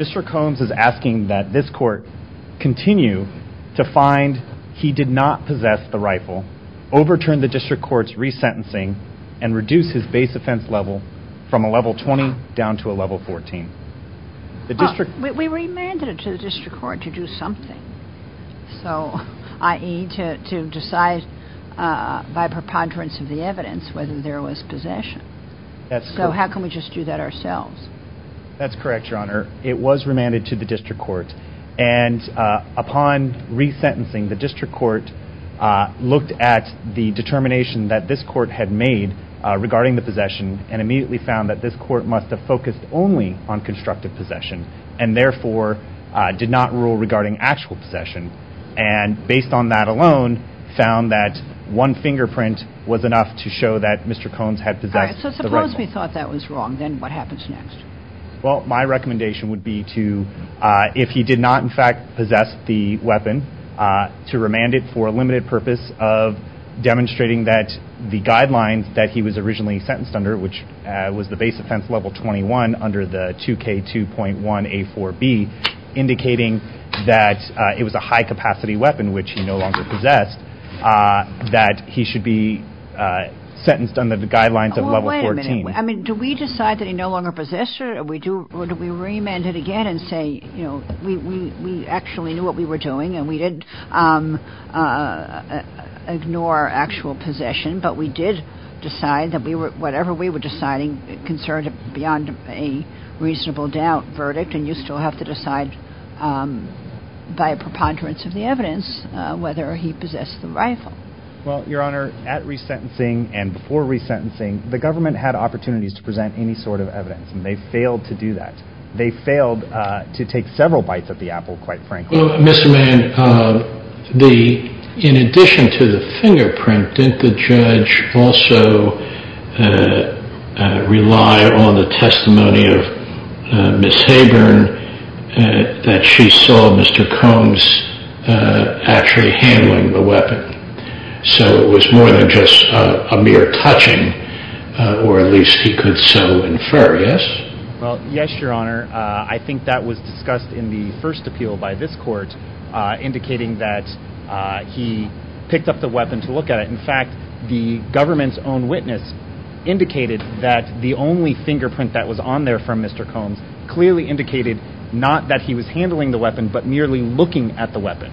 Mr. Combs is asking that this court continue to find he did not possess the rifle, overturn the district court's re-sentencing and reduce his base offense level from a level 20 down to a level 14. Judge O'Connor We remanded it to the district court to do something, i.e. to decide by preponderance of the evidence whether there was possession. So how can we just do that ourselves? Mr. Combs That's correct, Your Honor. It was remanded to the district court and upon re-sentencing the district court looked at the determination that this court had made regarding the possession and immediately found that this court must have focused only on constructive possession and therefore did not rule regarding actual possession. And based on that alone, found that one fingerprint was enough to show that Mr. Combs had possessed the rifle. Judge O'Connor All right, so suppose we thought that was wrong, then what happens next? Mr. Combs Well, my recommendation would be to, if he did not in fact possess the weapon, to remand it for a limited purpose of demonstrating that the guidelines that he was originally sentenced under, which was the base offense level 21 under the 2K2.1A4B, indicating that it was a high-capacity weapon which he no longer possessed, that he should be sentenced under the guidelines of level 14. Judge O'Connor Well, wait a minute. I mean, do we decide that he no longer possessed it or do we remand it again and say, you know, we actually knew what we were doing and we didn't ignore actual possession, but we did decide that whatever we were deciding concerned beyond a reasonable doubt verdict and you still have to decide by a preponderance of the evidence whether he possessed the rifle. Mr. Combs Well, Your Honor, at resentencing and before resentencing, the government had opportunities to present any sort of evidence and they failed to do that. They failed to take several bites at the apple, quite frankly. Judge O'Connor Well, Mr. Mann, in addition to the fingerprint, didn't the judge also rely on the testimony of Ms. Haburn that she saw Mr. Combs actually handling the weapon? So it was more than just a mere touching, or at least he could so infer, yes? Mr. Mann Well, yes, Your Honor. I think that was discussed in the first appeal by this court, indicating that he picked up the weapon to look at it. In fact, the government's own witness indicated that the only fingerprint that was on there from Mr. Combs clearly indicated not that he was handling the weapon, but merely looking at the weapon.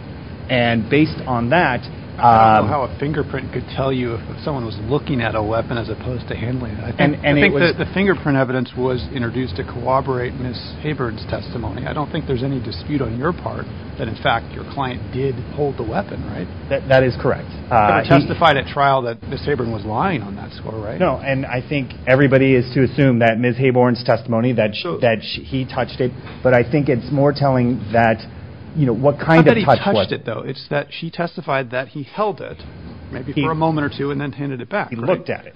And based on that... Judge O'Connor I don't know how a fingerprint could tell you if someone was looking at a weapon as opposed to handling it. I think the fingerprint evidence was introduced to corroborate Ms. Haburn's testimony. I don't think there's any dispute on your part that, in fact, your client did hold the weapon, right? Mr. Mann That is correct. Judge O'Connor He testified at trial that Ms. Haburn was lying on that score, right? Mr. Mann No, and I think everybody is to assume that Ms. Haburn's testimony, that he touched it, but I think it's more telling that, you know, what kind of touch was it? Judge O'Connor Not that he touched it, though. It's that she testified that he held it, maybe for a moment or two, and then handed it back. Mr. Mann He looked at it.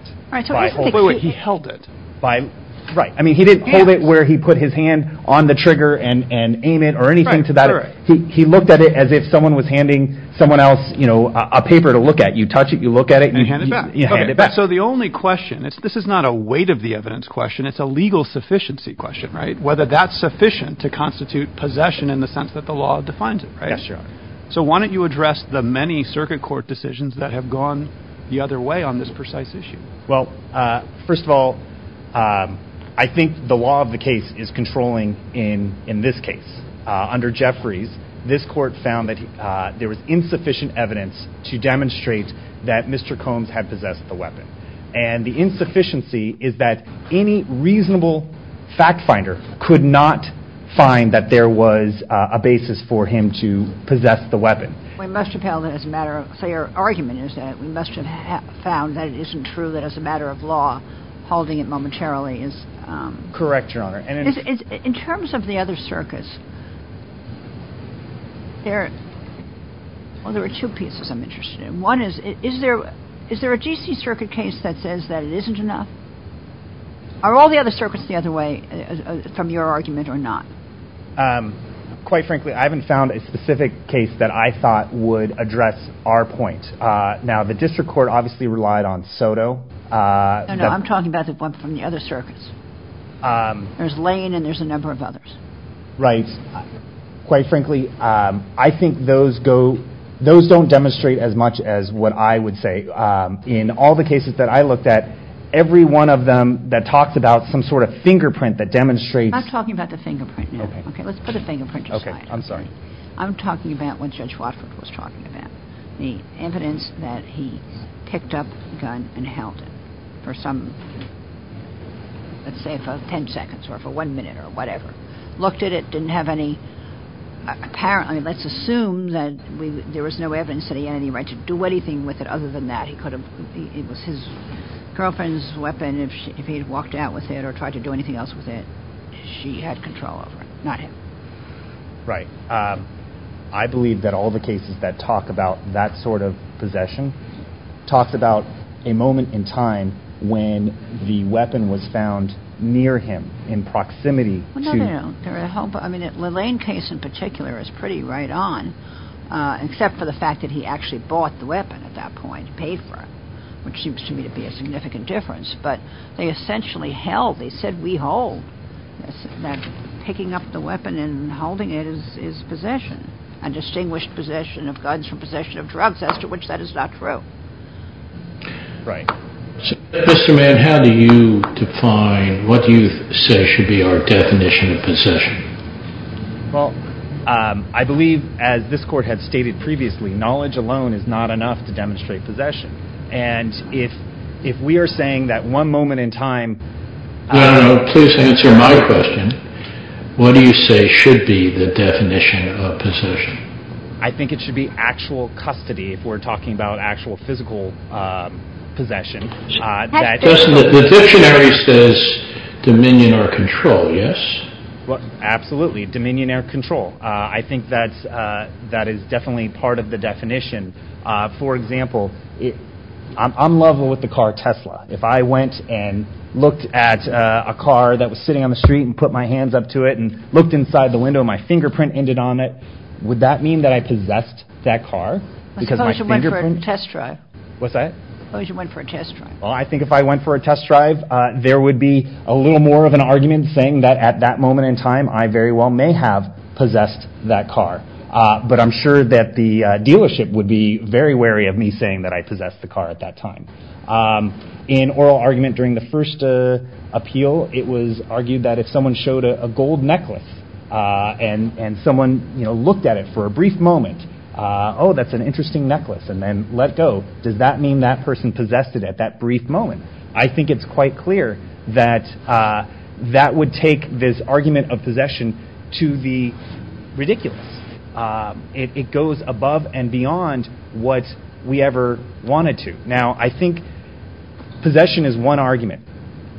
He held it. Judge O'Connor Right. I mean, he didn't hold it where he put his hand on the trigger and aim it or anything to that effect. He looked at it as if someone was handing someone else, you know, a paper to look at. You touch it, you look at it, and you hand it back. Mr. Mann So the only question, this is not a weight of the evidence question, it's a legal sufficiency question, right? Whether that's sufficient to constitute possession in the sense that the law defines it, right? Judge O'Connor Yes, Your Honor. Mr. Mann So why don't you address the many circuit court decisions that have gone the other way on this precise issue? Judge O'Connor Well, first of all, I think the law of the case is controlling in this case. Under Jeffries, this court found that there was insufficient evidence to demonstrate that Mr. Combs had possessed the weapon. And the insufficiency is that any reasonable fact finder could not find that there was a basis for him to possess the weapon. Judge O'Connor We must have held it as a matter of clear argument is that we must have found that it isn't true that as a matter of law, holding it momentarily Mr. Mann Correct, Your Honor. And in... Judge O'Connor In terms of the other circuits, there, well, there were two pieces I'm interested in. One is, is there a G.C. circuit case that says that it isn't enough? Are all the other circuits the other way from your argument or not? Mr. Mann Quite frankly, I haven't found a specific case that I thought would address our point. Now, the district court obviously relied on Soto. Judge O'Connor No, no, I'm talking about the one from the other circuits. There's Lane and there's a number of others. Mr. Mann Right. Quite frankly, I think those go, those don't demonstrate as much as what I would say. In all the cases that I looked at, every one of them that talks about some sort of fingerprint that demonstrates... Judge O'Connor I'm talking about the fingerprint now. Mr. Mann Okay. Judge O'Connor Okay, let's put the fingerprint aside. Mr. Mann Okay, I'm sorry. I'm talking about what Judge Watford was talking about, the evidence that he picked up a gun and held it for some, let's say for 10 seconds or for one minute or whatever. Looked at it, didn't have any apparent, I mean, let's assume that there was no evidence that he had any right to do anything with it other than that. He could have, it was his girlfriend's weapon, if he had walked out with it or tried to do anything else with it, she had control over it, not him. Judge O'Connor Right. I believe that all the cases that talk about that sort of possession talks about a moment in time when the weapon was found near him in proximity to... Judge O'Connor No, no, no. I mean, the Lane case in particular is pretty right on, except for the fact that he actually bought the weapon at that point, paid for it, which seems to me to be a significant difference. But they essentially held, they said, we hold, that picking up the weapon and holding it is possession, a distinguished possession of guns from possession of drugs, as to which that is not true. Judge O'Connor Right. Mr. Mann, how do you define what you say should be our definition of possession? Judge O'Connor Well, I believe, as this court had stated previously, knowledge alone is not enough to demonstrate possession. And if we are saying that one moment in time... Mr. Mann No, no, no. Please answer my question. What do you say should be the definition of possession? Judge O'Connor I think it should be actual custody, if we're talking about actual physical possession. Mr. Mann The dictionary says dominion or control, yes? Judge O'Connor Well, absolutely. Dominion or control. I think that is definitely part of the definition. For example, I'm level with the car Tesla. If I went and looked at a car that was sitting on the street and put my hands up to it and looked inside the window and my fingerprint ended on it, would that mean that I possessed Because my fingerprint... Judge O'Connor Suppose you went for a test drive. Mr. Mann What's that? Judge O'Connor Suppose you went for a test drive. Mr. Mann Well, I think if I went for a test drive, there would be a little more of an argument saying that at that moment in time, I very well may have possessed that car. But I'm sure that the dealership would be very wary of me saying that I possessed the car at that time. In oral argument during the first appeal, it was argued that if someone showed a gold necklace and someone looked at it for a brief moment, oh, that's an interesting necklace, and then let go, does that mean that person possessed it at that brief moment? I think it's quite clear that that would take this argument of possession to the ridiculous. It goes above and beyond what we ever wanted to. Now, I think possession is one argument,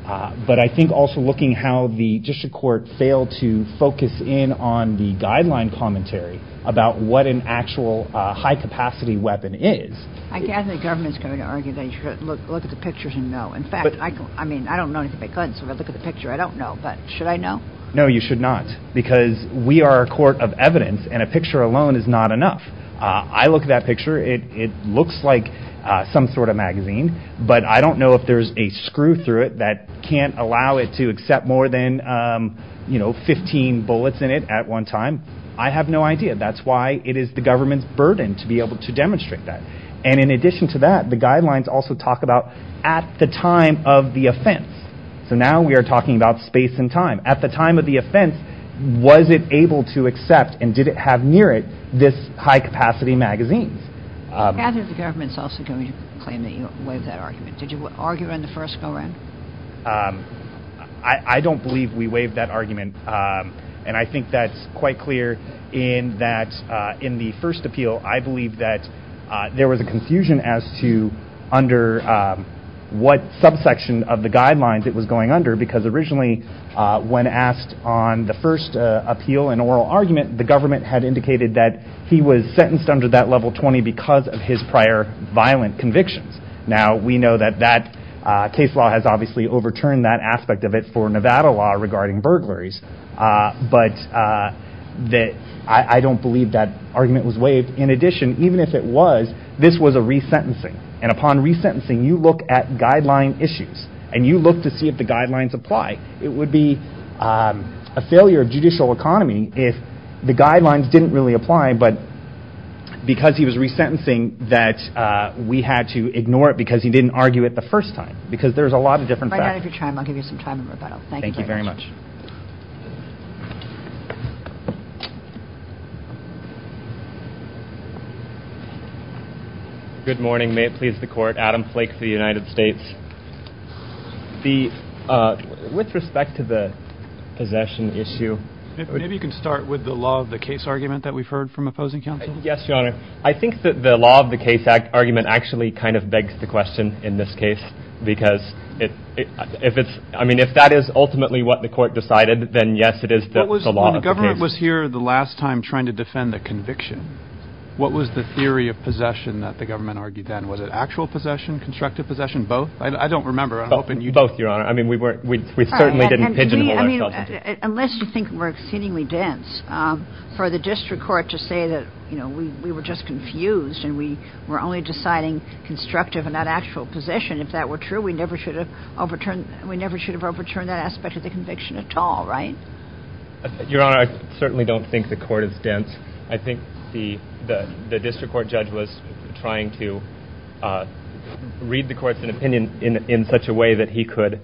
but I think also looking how the district court failed to focus in on the guideline commentary about what an actual high-capacity weapon is... Judge O'Connor I gather the government's going to argue that you should look at the pictures and know. In fact, I don't know anything about guns, so if I look at the picture, I don't know, but should I know? Mr. Mann No, you should not, because we are a court of evidence and a picture alone is not enough. I look at that picture, it looks like some sort of magazine, but I don't know if there is a screw through it that can't allow it to accept more than 15 bullets in it at one time. I have no idea. That's why it is the government's burden to be able to demonstrate that. And in addition to that, the guidelines also talk about at the time of the offense. So now we are talking about space and time. At the time of the offense, was it able to accept and did it have near it this high-capacity magazine? Judge O'Connor I gather the government is also going to claim that you waived that argument. Did you argue in the first go-round? Mr. Mann I don't believe we waived that argument. And I think that's quite clear in the first appeal. I believe that there was a confusion as to under what subsection of the guidelines it was. When asked on the first appeal and oral argument, the government had indicated that he was sentenced under that level 20 because of his prior violent convictions. Now, we know that that case law has obviously overturned that aspect of it for Nevada law regarding burglaries. But I don't believe that argument was waived. In addition, even if it was, this was a resentencing. And upon resentencing, you look at guideline issues and you look to see if the guidelines apply. It would be a failure of judicial economy if the guidelines didn't really apply, but because he was resentencing that we had to ignore it because he didn't argue it the first time. Because there's a lot of different factors. Judge O'Connor Right out of your time, I'll give you some time in rebuttal. Thank you very much. Adam Flake Good morning. May it please the court. Adam Flake for the United States. With respect to the possession issue. Judge O'Connor Maybe you can start with the law of the case argument that we've heard from opposing counsel. Adam Flake Yes, Your Honor. I think that the law of the case argument actually kind of begs the question in this case. Because if it's, I mean, if that is ultimately what the court decided, then yes, it is the law of the case. Judge O'Connor When the government was here the last time trying to defend the conviction, what was the theory of possession that the government Judge O'Connor Both. Judge O'Connor Both. Judge O'Connor Both. Judge O'Connor Both. Judge O'Connor I'm not sure. I don't remember. I'm hoping you do. Adam Flake Both, Your Honor. I mean, we certainly didn't pigeonhole ourselves into. Judge O'Connor All right. And to me, I mean, unless you think we're exceedingly dense, for the district court to say that, you know, we were just confused and we were only deciding constructive and not actual possession. If that were true, we never should have overturned that aspect of the conviction at all, right? Adam Flake Your Honor, I certainly don't think the court is dense. I think the district court judge was trying to read the court's opinion into more detail in such a way that he could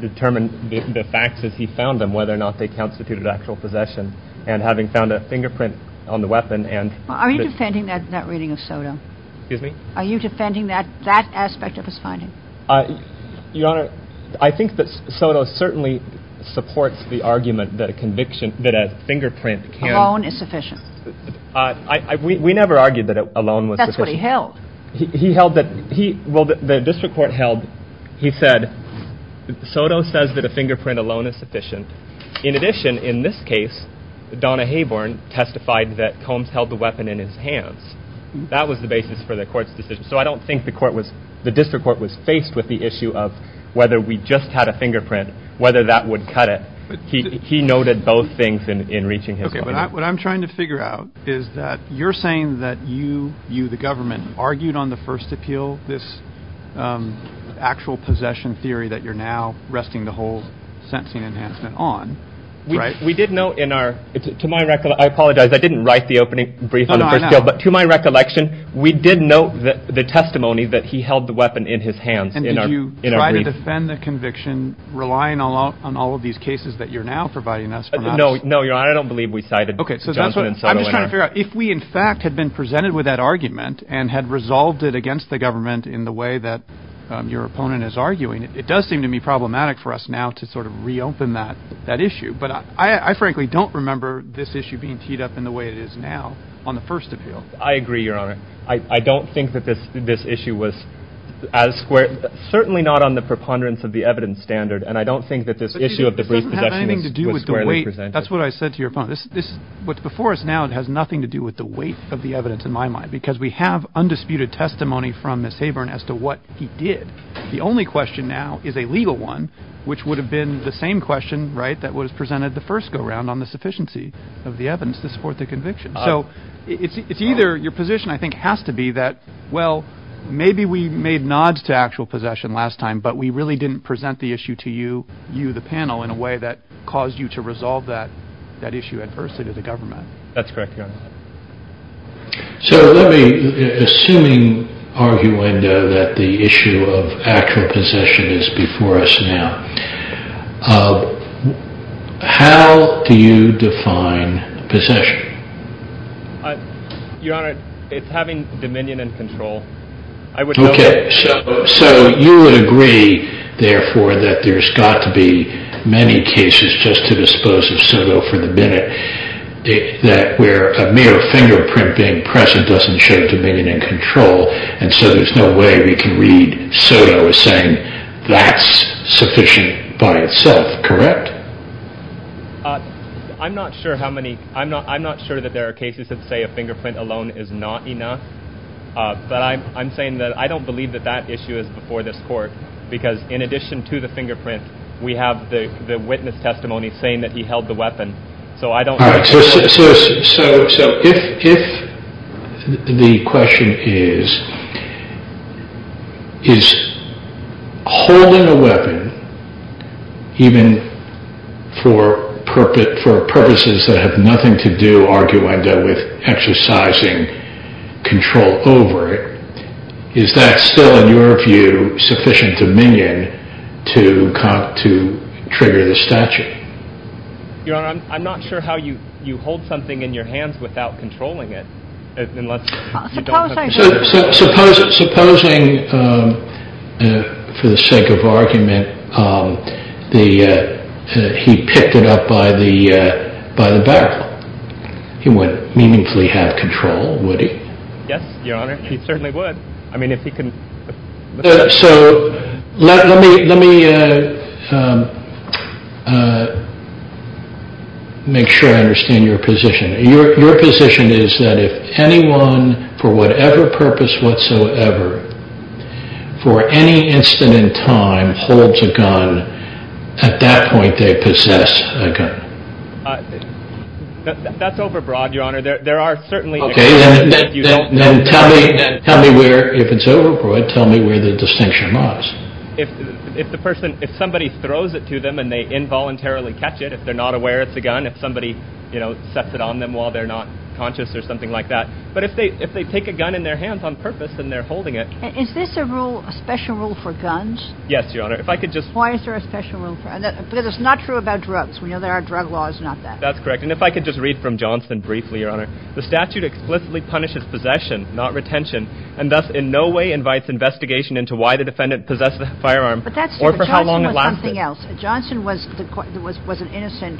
determine the facts as he found them, whether or not they constituted actual possession. And having found a fingerprint on the weapon and – Judge O'Connor Are you defending that reading of Soto? Adam Flake Excuse me? Judge O'Connor Are you defending that aspect of his finding? Adam Flake Your Honor, I think that Soto certainly supports the argument that a conviction – that a fingerprint can – Judge O'Connor Alone is sufficient. Adam Flake We never argued that alone was sufficient. Judge O'Connor That's what he held. Adam Flake He held that – he – well, the district court held – he said Soto says that a fingerprint alone is sufficient. In addition, in this case, Donna Hayborn testified that Combs held the weapon in his hands. That was the basis for the court's decision. So I don't think the court was – the district court was faced with the issue of whether we just had a fingerprint, whether that would cut it. He noted both things in reaching his point. Judge O'Connor Okay, but what I'm trying to figure out is that you're saying that you – you, the government – argued on the first appeal this actual possession theory that you're now resting the whole sentencing enhancement on, right? Adam Flake We did note in our – to my – I apologize, I didn't write the opening brief on the first appeal. But to my recollection, we did note the testimony that he held the weapon in his hands in our – in our brief. Judge O'Connor And did you try to defend the conviction, relying on all of these cases that you're now providing us? Adam Flake No. No, Your Honor. I don't believe we cited Johnson and Soto in our – Judge O'Connor If we, in fact, had been presented with that argument and had resolved it against the government in the way that your opponent is arguing, it does seem to be problematic for us now to sort of reopen that issue. But I frankly don't remember this issue being teed up in the way it is now on the first appeal. Adam Flake I agree, Your Honor. I don't think that this issue was as square – certainly not on the preponderance of the evidence standard. And I don't think that this issue of the brief possession was squarely presented. Judge O'Connor But it doesn't have anything to do with the weight. That's what I said to your opponent. This – what's before us now has nothing to do with the weight of the evidence in my mind because we have undisputed testimony from Ms. Habern as to what he did. The only question now is a legal one, which would have been the same question, right, that was presented the first go-round on the sufficiency of the evidence to support the conviction. So it's either – your position, I think, has to be that, well, maybe we made nods to actual possession last time, but we really didn't present the issue to you, the panel, in a way that caused you to resolve that issue adversely to the government. Justice Breyer That's correct, Your Honor. Judge Maldonado So let me – assuming, arguendo, that the issue of actual possession is before us now, how do you define possession? Justice Breyer Your Honor, it's having dominion and control. I would go – that there's got to be many cases, just to dispose of Soto for the minute, that where a mere fingerprint being present doesn't show dominion and control, and so there's no way we can read Soto as saying that's sufficient by itself, correct? Justice Breyer I'm not sure how many – I'm not sure that there are cases that say a fingerprint alone is not enough, but I'm saying that I don't believe that that issue is before this Court, because in addition to the fingerprint, we have the witness testimony saying that he held the weapon. So I don't – Judge Maldonado So if the question is, is holding a weapon, even for purposes that have nothing to do, arguendo, with exercising control over it, is that still, in your view, sufficient dominion to trigger the statute? Justice Breyer Your Honor, I'm not sure how you hold something in your hands without controlling it, unless you don't have control over it. Judge Maldonado Supposing, for the sake of argument, he picked it up by the barrel, he would meaningfully have control, would he? Justice Breyer Yes, Your Honor, he certainly would. I mean, if he can – Judge Maldonado So let me make sure I understand your position. Your position is that if anyone, for whatever purpose whatsoever, for any instant in time holds a gun, at that point they possess a gun? Justice Breyer That's overbroad, Your Honor. There are certainly – Judge Maldonado Okay. Then tell me where, if it's overbroad, tell me where the distinction lies. Justice Breyer If the person – if somebody throws it to them and they involuntarily catch it, if they're not aware it's a gun, if somebody, you know, sets it on them while they're not conscious or something like that. But if they take a gun in their hands on purpose and they're holding it – Judge Maldonado Is this a rule, a special rule for guns? Justice Breyer Yes, Your Honor. If I could just – Judge Maldonado Why is there a special rule for – because it's not true about drugs. We know there are drug laws, not that. Justice Breyer That's correct. And if I could just read from Johnson briefly, Your Honor. The statute explicitly punishes possession, not retention, and thus in no way invites investigation into why the defendant possessed the firearm or for how long it lasted. Judge Maldonado But that's true. Johnson was something else. Johnson was an innocent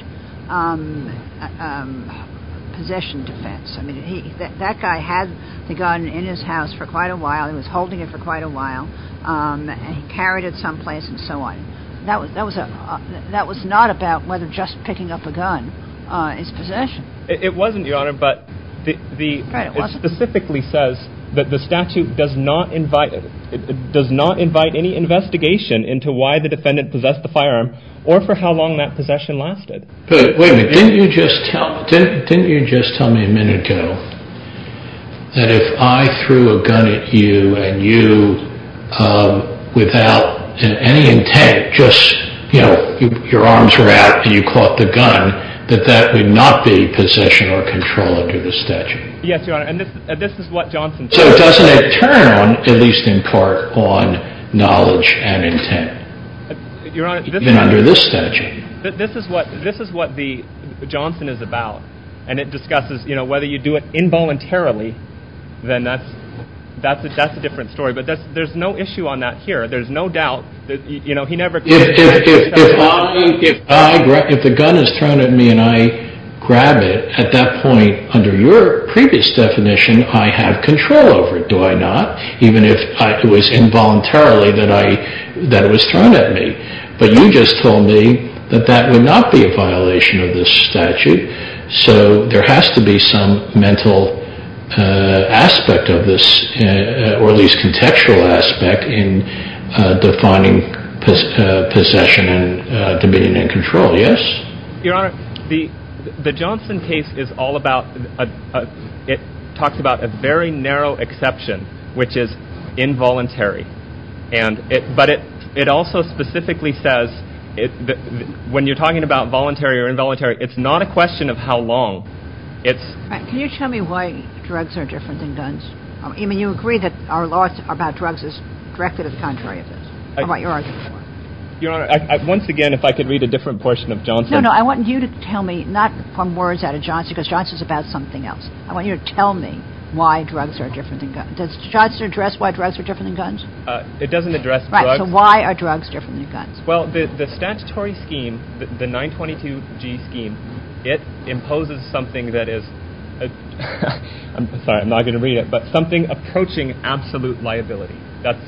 possession defense. I mean, he – that guy had the gun in his house for quite a while. He was holding it for quite a while and he carried it someplace and so on. That was a – that was not about whether just picking up a gun is possession. Justice Breyer It wasn't, Your Honor, but the – it specifically says that the statute does not invite – does not invite any investigation into why the defendant possessed the firearm or for how long that possession lasted. Judge Maldonado But wait a minute. Didn't you just tell – didn't you just tell me a minute ago that if I threw a gun at you and you, without any intent, just, you know, your arms were out and you caught the gun, that that would not be possession or control under the statute? Justice Breyer Yes, Your Honor, and this is what Johnson said. Judge Maldonado So doesn't it turn on, at least in part, on knowledge and intent? Justice Breyer Your Honor, this is – Judge Maldonado Even under this statute. Justice Breyer This is what – this is what the – Johnson is about and it discusses, you know, whether you do it involuntarily, then that's – that's a different story. But that's – there's no issue on that here. There's no doubt that, you know, he never – Judge Maldonado If I – if the gun is thrown at me and I grab it, at that point, under your previous definition, I have control over it, do I not? Even if it was involuntarily that I – that it was thrown at me. But you just told me that that would not be a violation of this statute, so there has to be some mental aspect of this, or at least contextual aspect, in defining possession and dominion and control, yes? Justice Breyer Your Honor, the – the Johnson case is all about – it talks about a very narrow exception, which is involuntary, and it – but it – it also specifically says – when you're talking about voluntary or involuntary, it's not a question of how long. It's – Judge Maldonado Can you tell me why drugs are different than guns? I mean, you agree that our law about drugs is directly the contrary of this, or what you're arguing for. Justice Breyer Your Honor, I – once again, if I could read a different portion of Johnson – Judge Maldonado No, no, I want you to tell me, not from words out of Johnson, because Johnson's about something else. I want you to tell me why drugs are different than guns. Does Johnson address why drugs are different than guns? Justice Breyer It doesn't address drugs. Judge Maldonado Right, so why are drugs different than guns? Justice Breyer Well, the statutory scheme, the 922G scheme, it imposes something that is – I'm sorry, I'm not going to read it – but something approaching absolute liability. That's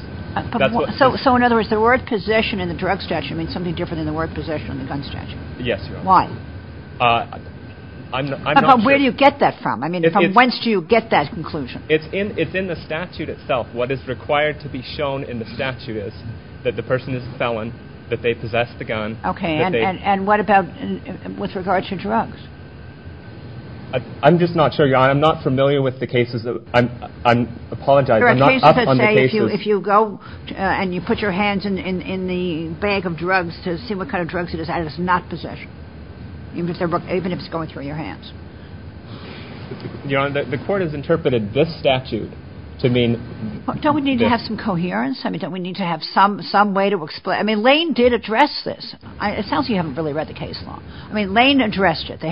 what – Judge Maldonado So in other words, the word possession in the drug statute means something different than the word possession in the gun statute. Justice Breyer Yes, Your Honor. Judge Maldonado Why? Justice Breyer I'm not sure – Judge Maldonado Where do you get that from? I mean, from whence do you get that conclusion? Justice Breyer It's in the statute itself. What is required to be shown in the statute is that the person is a felon, that they possess the gun, that they – Judge Maldonado Okay, and what about with regard to drugs? Justice Breyer I'm just not sure, Your Honor. I'm not familiar with the cases. I'm not up on the cases. Judge Maldonado There are cases that say if you go and you put your hands in the bag of drugs to see what kind of drugs it is, that is not possession, even if it's going through your hands. Justice Breyer Your Honor, the court has interpreted this – Judge Maldonado Don't we need to have some coherence? I mean, don't we need to have some way to explain? I mean, Lane did address this. It sounds like you haven't really read the case law. I mean, Lane addressed it. It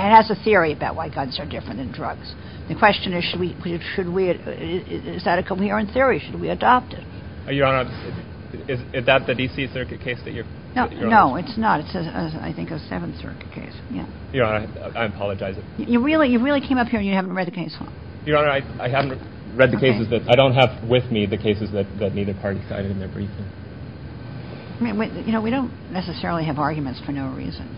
has a theory about why guns are different than drugs. The question is, should we – is that a coherent theory? Should we adopt it? Justice Breyer Your Honor, is that the D.C. Circuit case that you're – Judge Maldonado No, it's not. It's, I think, a Seventh Circuit case. Yeah. Justice Breyer Your Honor, I apologize. Judge Maldonado You really came up here and you haven't read the case law? Justice Breyer Your Honor, I haven't read the cases that – Judge Maldonado Okay. that neither party cited in their briefing. Justice O'Connor I mean, you know, we don't necessarily have arguments for no reason.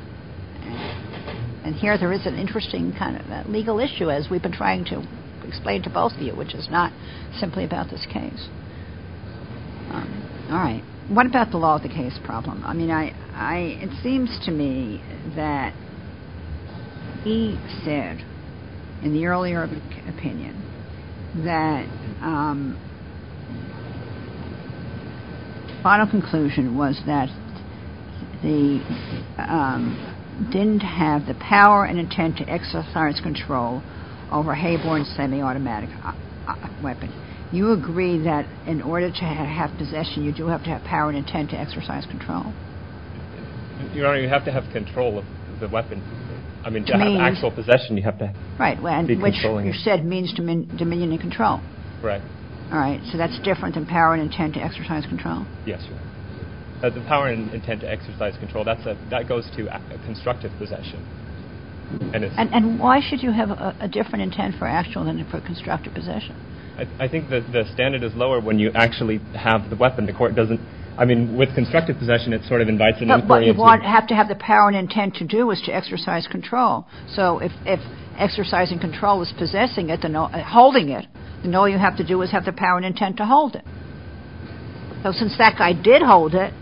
And here there is an interesting kind of legal issue, as we've been trying to explain to both of you, which is not simply about this case. All right. What about the law of the case problem? I mean, I – it seems to me that he said, in the earlier opinion, that the final conclusion was that the – didn't have the power and intent to exercise control over a Hayborn semi-automatic weapon. You agree that in order to have possession, you do have to have power and intent to exercise control? Justice Breyer Your Honor, you have to have control of the weapon. I mean, to have actual possession, you have to be controlling it. Justice O'Connor Right. And which you said means dominion and control. Justice Breyer Right. Justice O'Connor All right. So that's different than power and intent to exercise control? Justice Breyer Yes, Your Honor. The power and intent to exercise control, that goes to constructive possession. And it's – Justice O'Connor And why should you have a different intent for actual than for constructive possession? Justice Breyer I think that the standard is lower when you actually have the weapon. The court doesn't – I mean, with constructive possession, it sort of invites an inquiry Justice O'Connor But what you have to have the power and intent to do is to exercise control. So if exercising control is possessing it, holding it, then all you have to do is have the power and intent to hold it. So since that guy did hold it,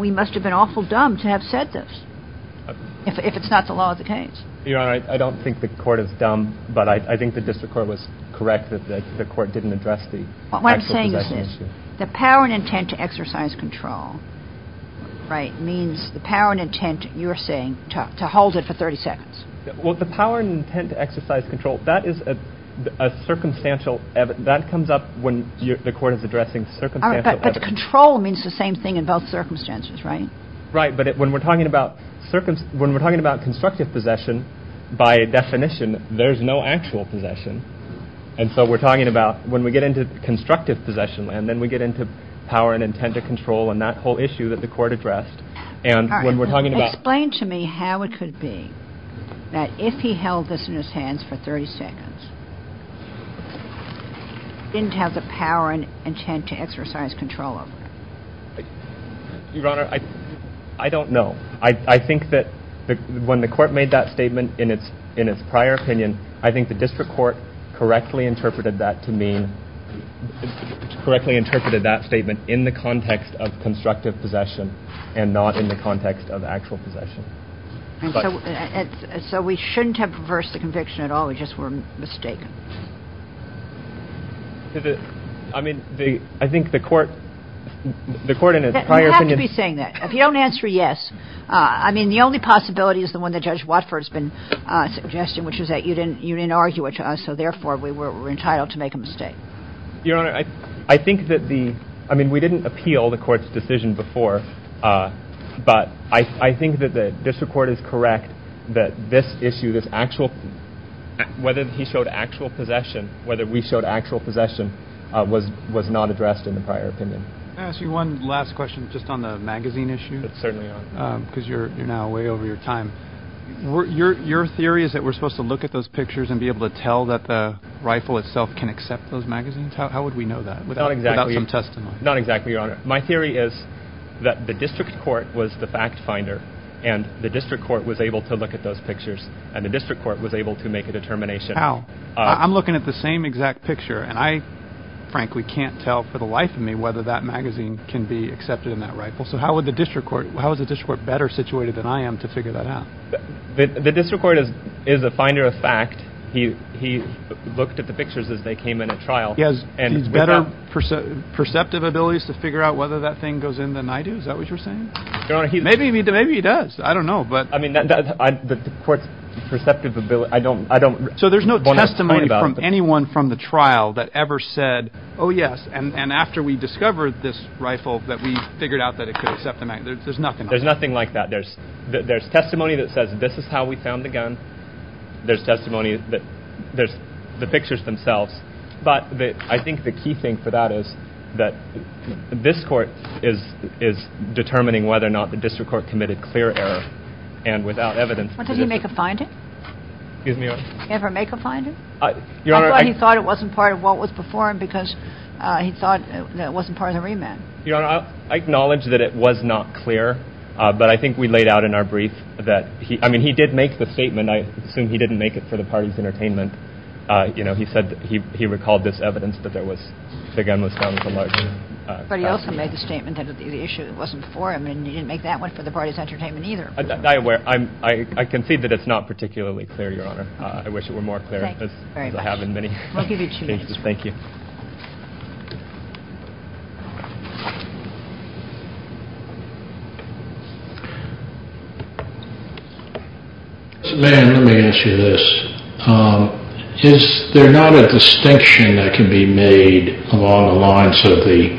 we must have been awful dumb to have said this, if it's not the law of the case. Justice Breyer Your Honor, I don't think the court is dumb, but I think the district court was correct that the court didn't address the actual possession issue. The power and intent to exercise control, right, means the power and intent, you're saying, to hold it for 30 seconds. Justice Breyer Well, the power and intent to exercise control, that is a circumstantial – that comes up when the court is addressing circumstantial evidence. Justice O'Connor But control means the same thing in both circumstances, right? Justice Breyer Right, but when we're talking about – when we're talking about constructive possession, by definition, there's no actual possession. And so we're talking about, when we get into constructive possession, and then we get into power and intent to control, and that whole issue that the court addressed, and when we're talking about – Justice O'Connor Explain to me how it could be that if he held this in his hands for 30 seconds, he didn't have the power and intent to exercise control of it. Justice Breyer Your Honor, I don't know. I think that when the court made that statement in its prior opinion, I think the district court correctly interpreted that to mean – correctly interpreted that statement in the context of constructive possession and not in the context of actual possession. Justice O'Connor And so we shouldn't have reversed the conviction at all. We just were mistaken. Justice Breyer I mean, the – I think the court – the court in its prior opinion – Justice O'Connor You have to be saying that. If you don't answer yes – I mean, the only possibility is the one that Judge Watford has been suggesting, which is that you didn't argue it to us, so therefore we were entitled to make a mistake. Justice Breyer Your Honor, I think that the – I mean, we didn't appeal the court's decision before, but I think that the district court is correct that this issue, this actual – whether he showed actual possession, whether we showed actual possession was not addressed in the prior opinion. Justice Breyer Can I ask you one last question just on the magazine issue? Justice Breyer Certainly, Your Honor. Justice Breyer Because you're now way over your time. Justice Breyer Your theory is that we're supposed to look at those pictures and be able to tell that the rifle itself can accept those magazines? How would we know that without – Justice Breyer Not exactly – Justice Breyer Without some testimony? Justice Breyer Not exactly, Your Honor. My theory is that the district court was the fact finder, and the district court was able to look at those pictures, and the district court was able to make a determination – Justice Breyer How? I'm looking at the same exact picture, and I frankly can't tell for the life of me whether that magazine can be accepted in that rifle. So how would the district court – how is the district court better situated than I am to figure that out? Justice Breyer The district court is a finder of fact. He looked at the pictures as they came in at trial – Justice Breyer He has better perceptive abilities to figure out whether that thing goes in than I do? Is that what you're saying? Justice Breyer Your Honor, he – Justice Breyer Maybe he does. I don't know, but – Justice Breyer I mean, the court's perceptive ability – I don't – Justice Breyer So there's no testimony from anyone from the trial that ever said, oh, yes, and after we discovered this rifle, that we figured out that it could accept the magazine. There's nothing like that. There's testimony that says, this is how we found the gun. There's testimony that – there's the pictures themselves. But I think the key thing for that is that this court is determining whether or not the district court committed clear error. And without evidence – Justice O'Connor What, did he make a finding? Justice Breyer Excuse me, what? Justice O'Connor Did he ever make a finding? Justice Breyer Your Honor – Justice O'Connor I thought he thought it wasn't part of what was before him because he thought it wasn't part of the remand. Justice Breyer Your Honor, I acknowledge that it was not clear. But I think we laid out in our brief that – I mean, he did make the statement. I assume he didn't make it for the party's entertainment. You know, he said that he recalled this evidence that there was – the gun was found with a large – Justice O'Connor But he also made the statement that the issue wasn't for him. And he didn't make that one for the party's entertainment either. Justice Breyer I'm aware – I concede that it's not particularly clear, Your Honor. I wish it were more clear. Justice O'Connor Thank you very much. Justice Breyer As I have in many cases. Justice O'Connor We'll give you two minutes. Man, let me ask you this. Is there not a distinction that can be made along the lines of the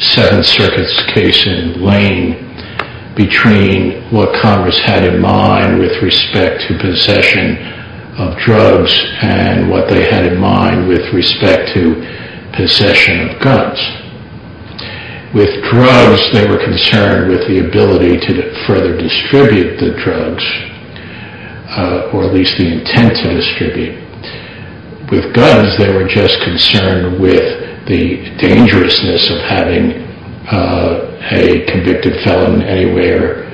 Seventh Circuit's case in Lane between what Congress had in mind with respect to possession of drugs and what they had in mind with respect to possession of guns? With drugs, they were concerned with the ability to further distribute the drugs, or at least the intent to distribute. With guns, they were just concerned with the dangerousness of having a convicted felon anywhere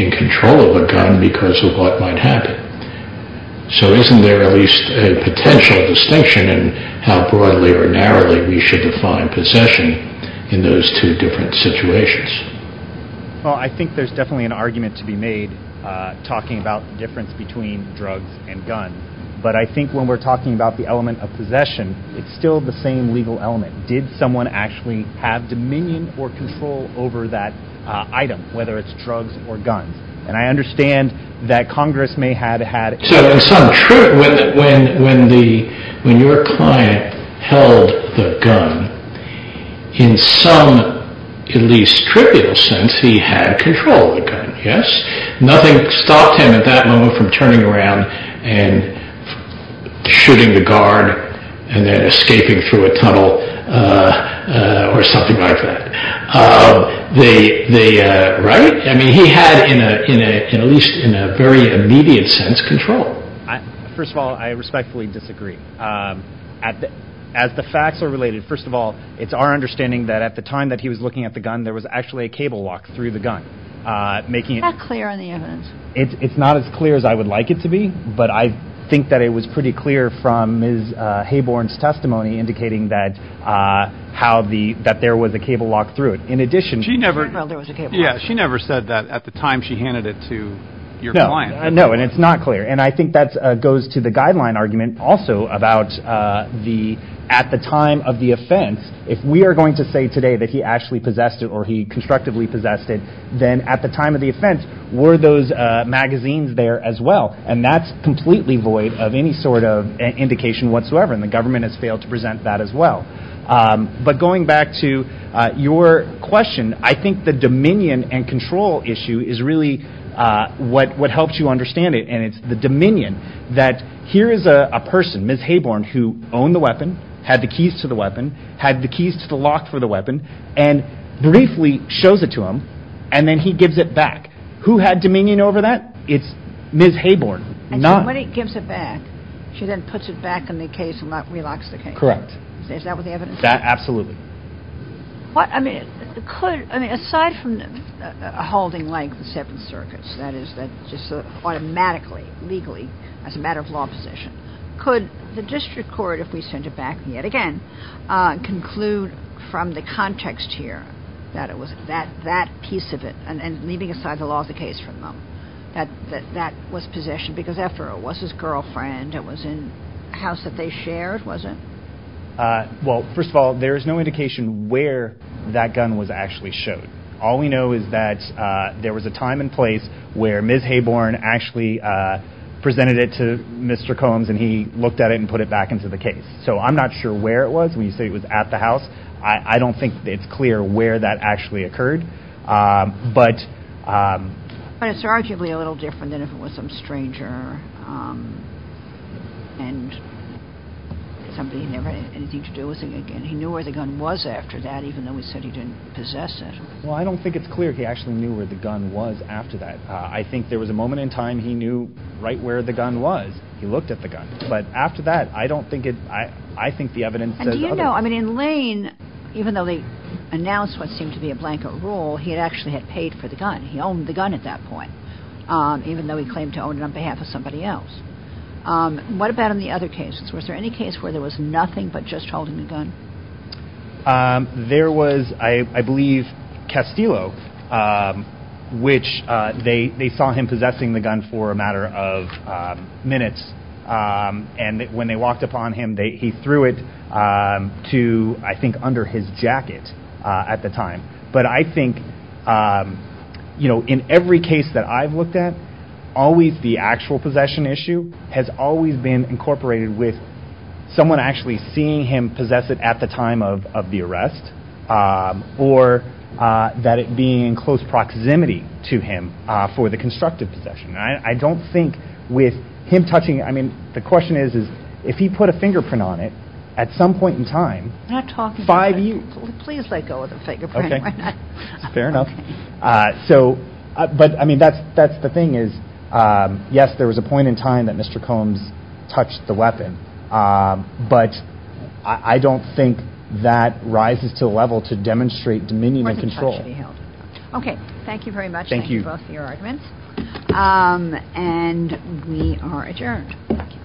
in control of a gun because of what might happen. So isn't there at least a potential distinction in how broadly or narrowly we should define possession in those two different situations? Justice O'Connor Well, I think there's definitely an argument to be made talking about the difference between drugs and guns. But I think when we're talking about the element of possession, it's still the same legal element. Did someone actually have dominion or control over that item, whether it's drugs or guns? And I understand that Congress may have had... So, in some trivial, when your client held the gun, in some at least trivial sense, he had control of the gun, yes? Nothing stopped him at that moment from turning around and shooting the guard and then escaping through a tunnel or something like that, right? I mean, he had, at least in a very immediate sense, control. Justice O'Connor First of all, I respectfully disagree. As the facts are related, first of all, it's our understanding that at the time that he was looking at the gun, there was actually a cable walk through the gun, making it... Justice O'Connor It's not as clear as I would like it to be, but I think that it was pretty clear from Ms. Hayborn's testimony indicating that there was a cable walk through it. In addition... Justice O'Connor She said that at the time she handed it to Justice O'Connor No, and it's not clear. And I think that goes to the guideline argument also about the, at the time of the offense, if we are going to say today that he actually possessed it or he constructively possessed it, then at the time of the offense, were those magazines there as well? And that's completely void of any sort of indication whatsoever, and the government has failed to present that as well. But going back to your question, I think the dominion and control issue is really what helps you understand it, and it's the dominion that here is a person, Ms. Hayborn, who owned the weapon, had the keys to the weapon, had the keys to the lock for the weapon, and briefly shows it to him, and then he gives it back. Who had dominion over that? It's Ms. Hayborn. Not... Justice O'Connor And when he gives it back, she then puts it back in the case and relocks the case. Justice O'Connor Correct. Is that what the evidence says? Justice O'Connor Absolutely. Justice O'Connor What, I mean, could, I mean, aside from holding like the Seventh Circuit, that is, just automatically, legally, as a matter of law possession, could the district court, if we send it back yet again, conclude from the context here that it was that piece of it, and leaving aside the law of the case from them, that that was possession because after all, it was his girlfriend, it was in a house that they shared, was it? Justice O'Connor Well, first of all, there is no indication where that gun was actually showed. All we know is that there was a time and place where Ms. Hayborn actually presented it to Mr. Combs, and he looked at it and put it back into the case. So I'm not sure where it was when you say it was at the house. I don't think it's clear where that actually occurred. But... Justice O'Connor Well, I don't think it's clear he actually knew where the gun was after that. I think there was a moment in time he knew right where the gun was. He looked at the gun. But after that, I don't think it, I think the evidence says otherwise. Justice O'Connor And do you know, I mean, in Lane, even though they announced what seemed to be a blanket rule, he actually had paid for the gun. He owned the gun at that point, even though he claimed to own it on behalf of somebody else. What about in the other cases? Was there any case where there was nothing but just holding the gun? Justice O'Connor There was, I believe, Castillo, which they saw him possessing the gun for a matter of minutes. And when they walked up on him, he threw it to, I think, under his jacket at the time. But I think, you know, in every case that I've looked at, always the actual possession issue has always been incorporated with someone actually seeing him possess it at the time of the arrest, or that it being in close proximity to him for the constructive possession. I don't think with him touching it, I mean, the question is, is if he put a fingerprint on it at some point in time, five years- Justice O'Connor Please let go of the fingerprint, why not? Justice O'Connor Fair enough. So, but I mean, that's the thing is, yes, there was a point in time that Mr. Combs touched the weapon. But I don't think that rises to a level to demonstrate dominion and control. Justice O'Connor Okay, thank you very much for your arguments. And we are adjourned.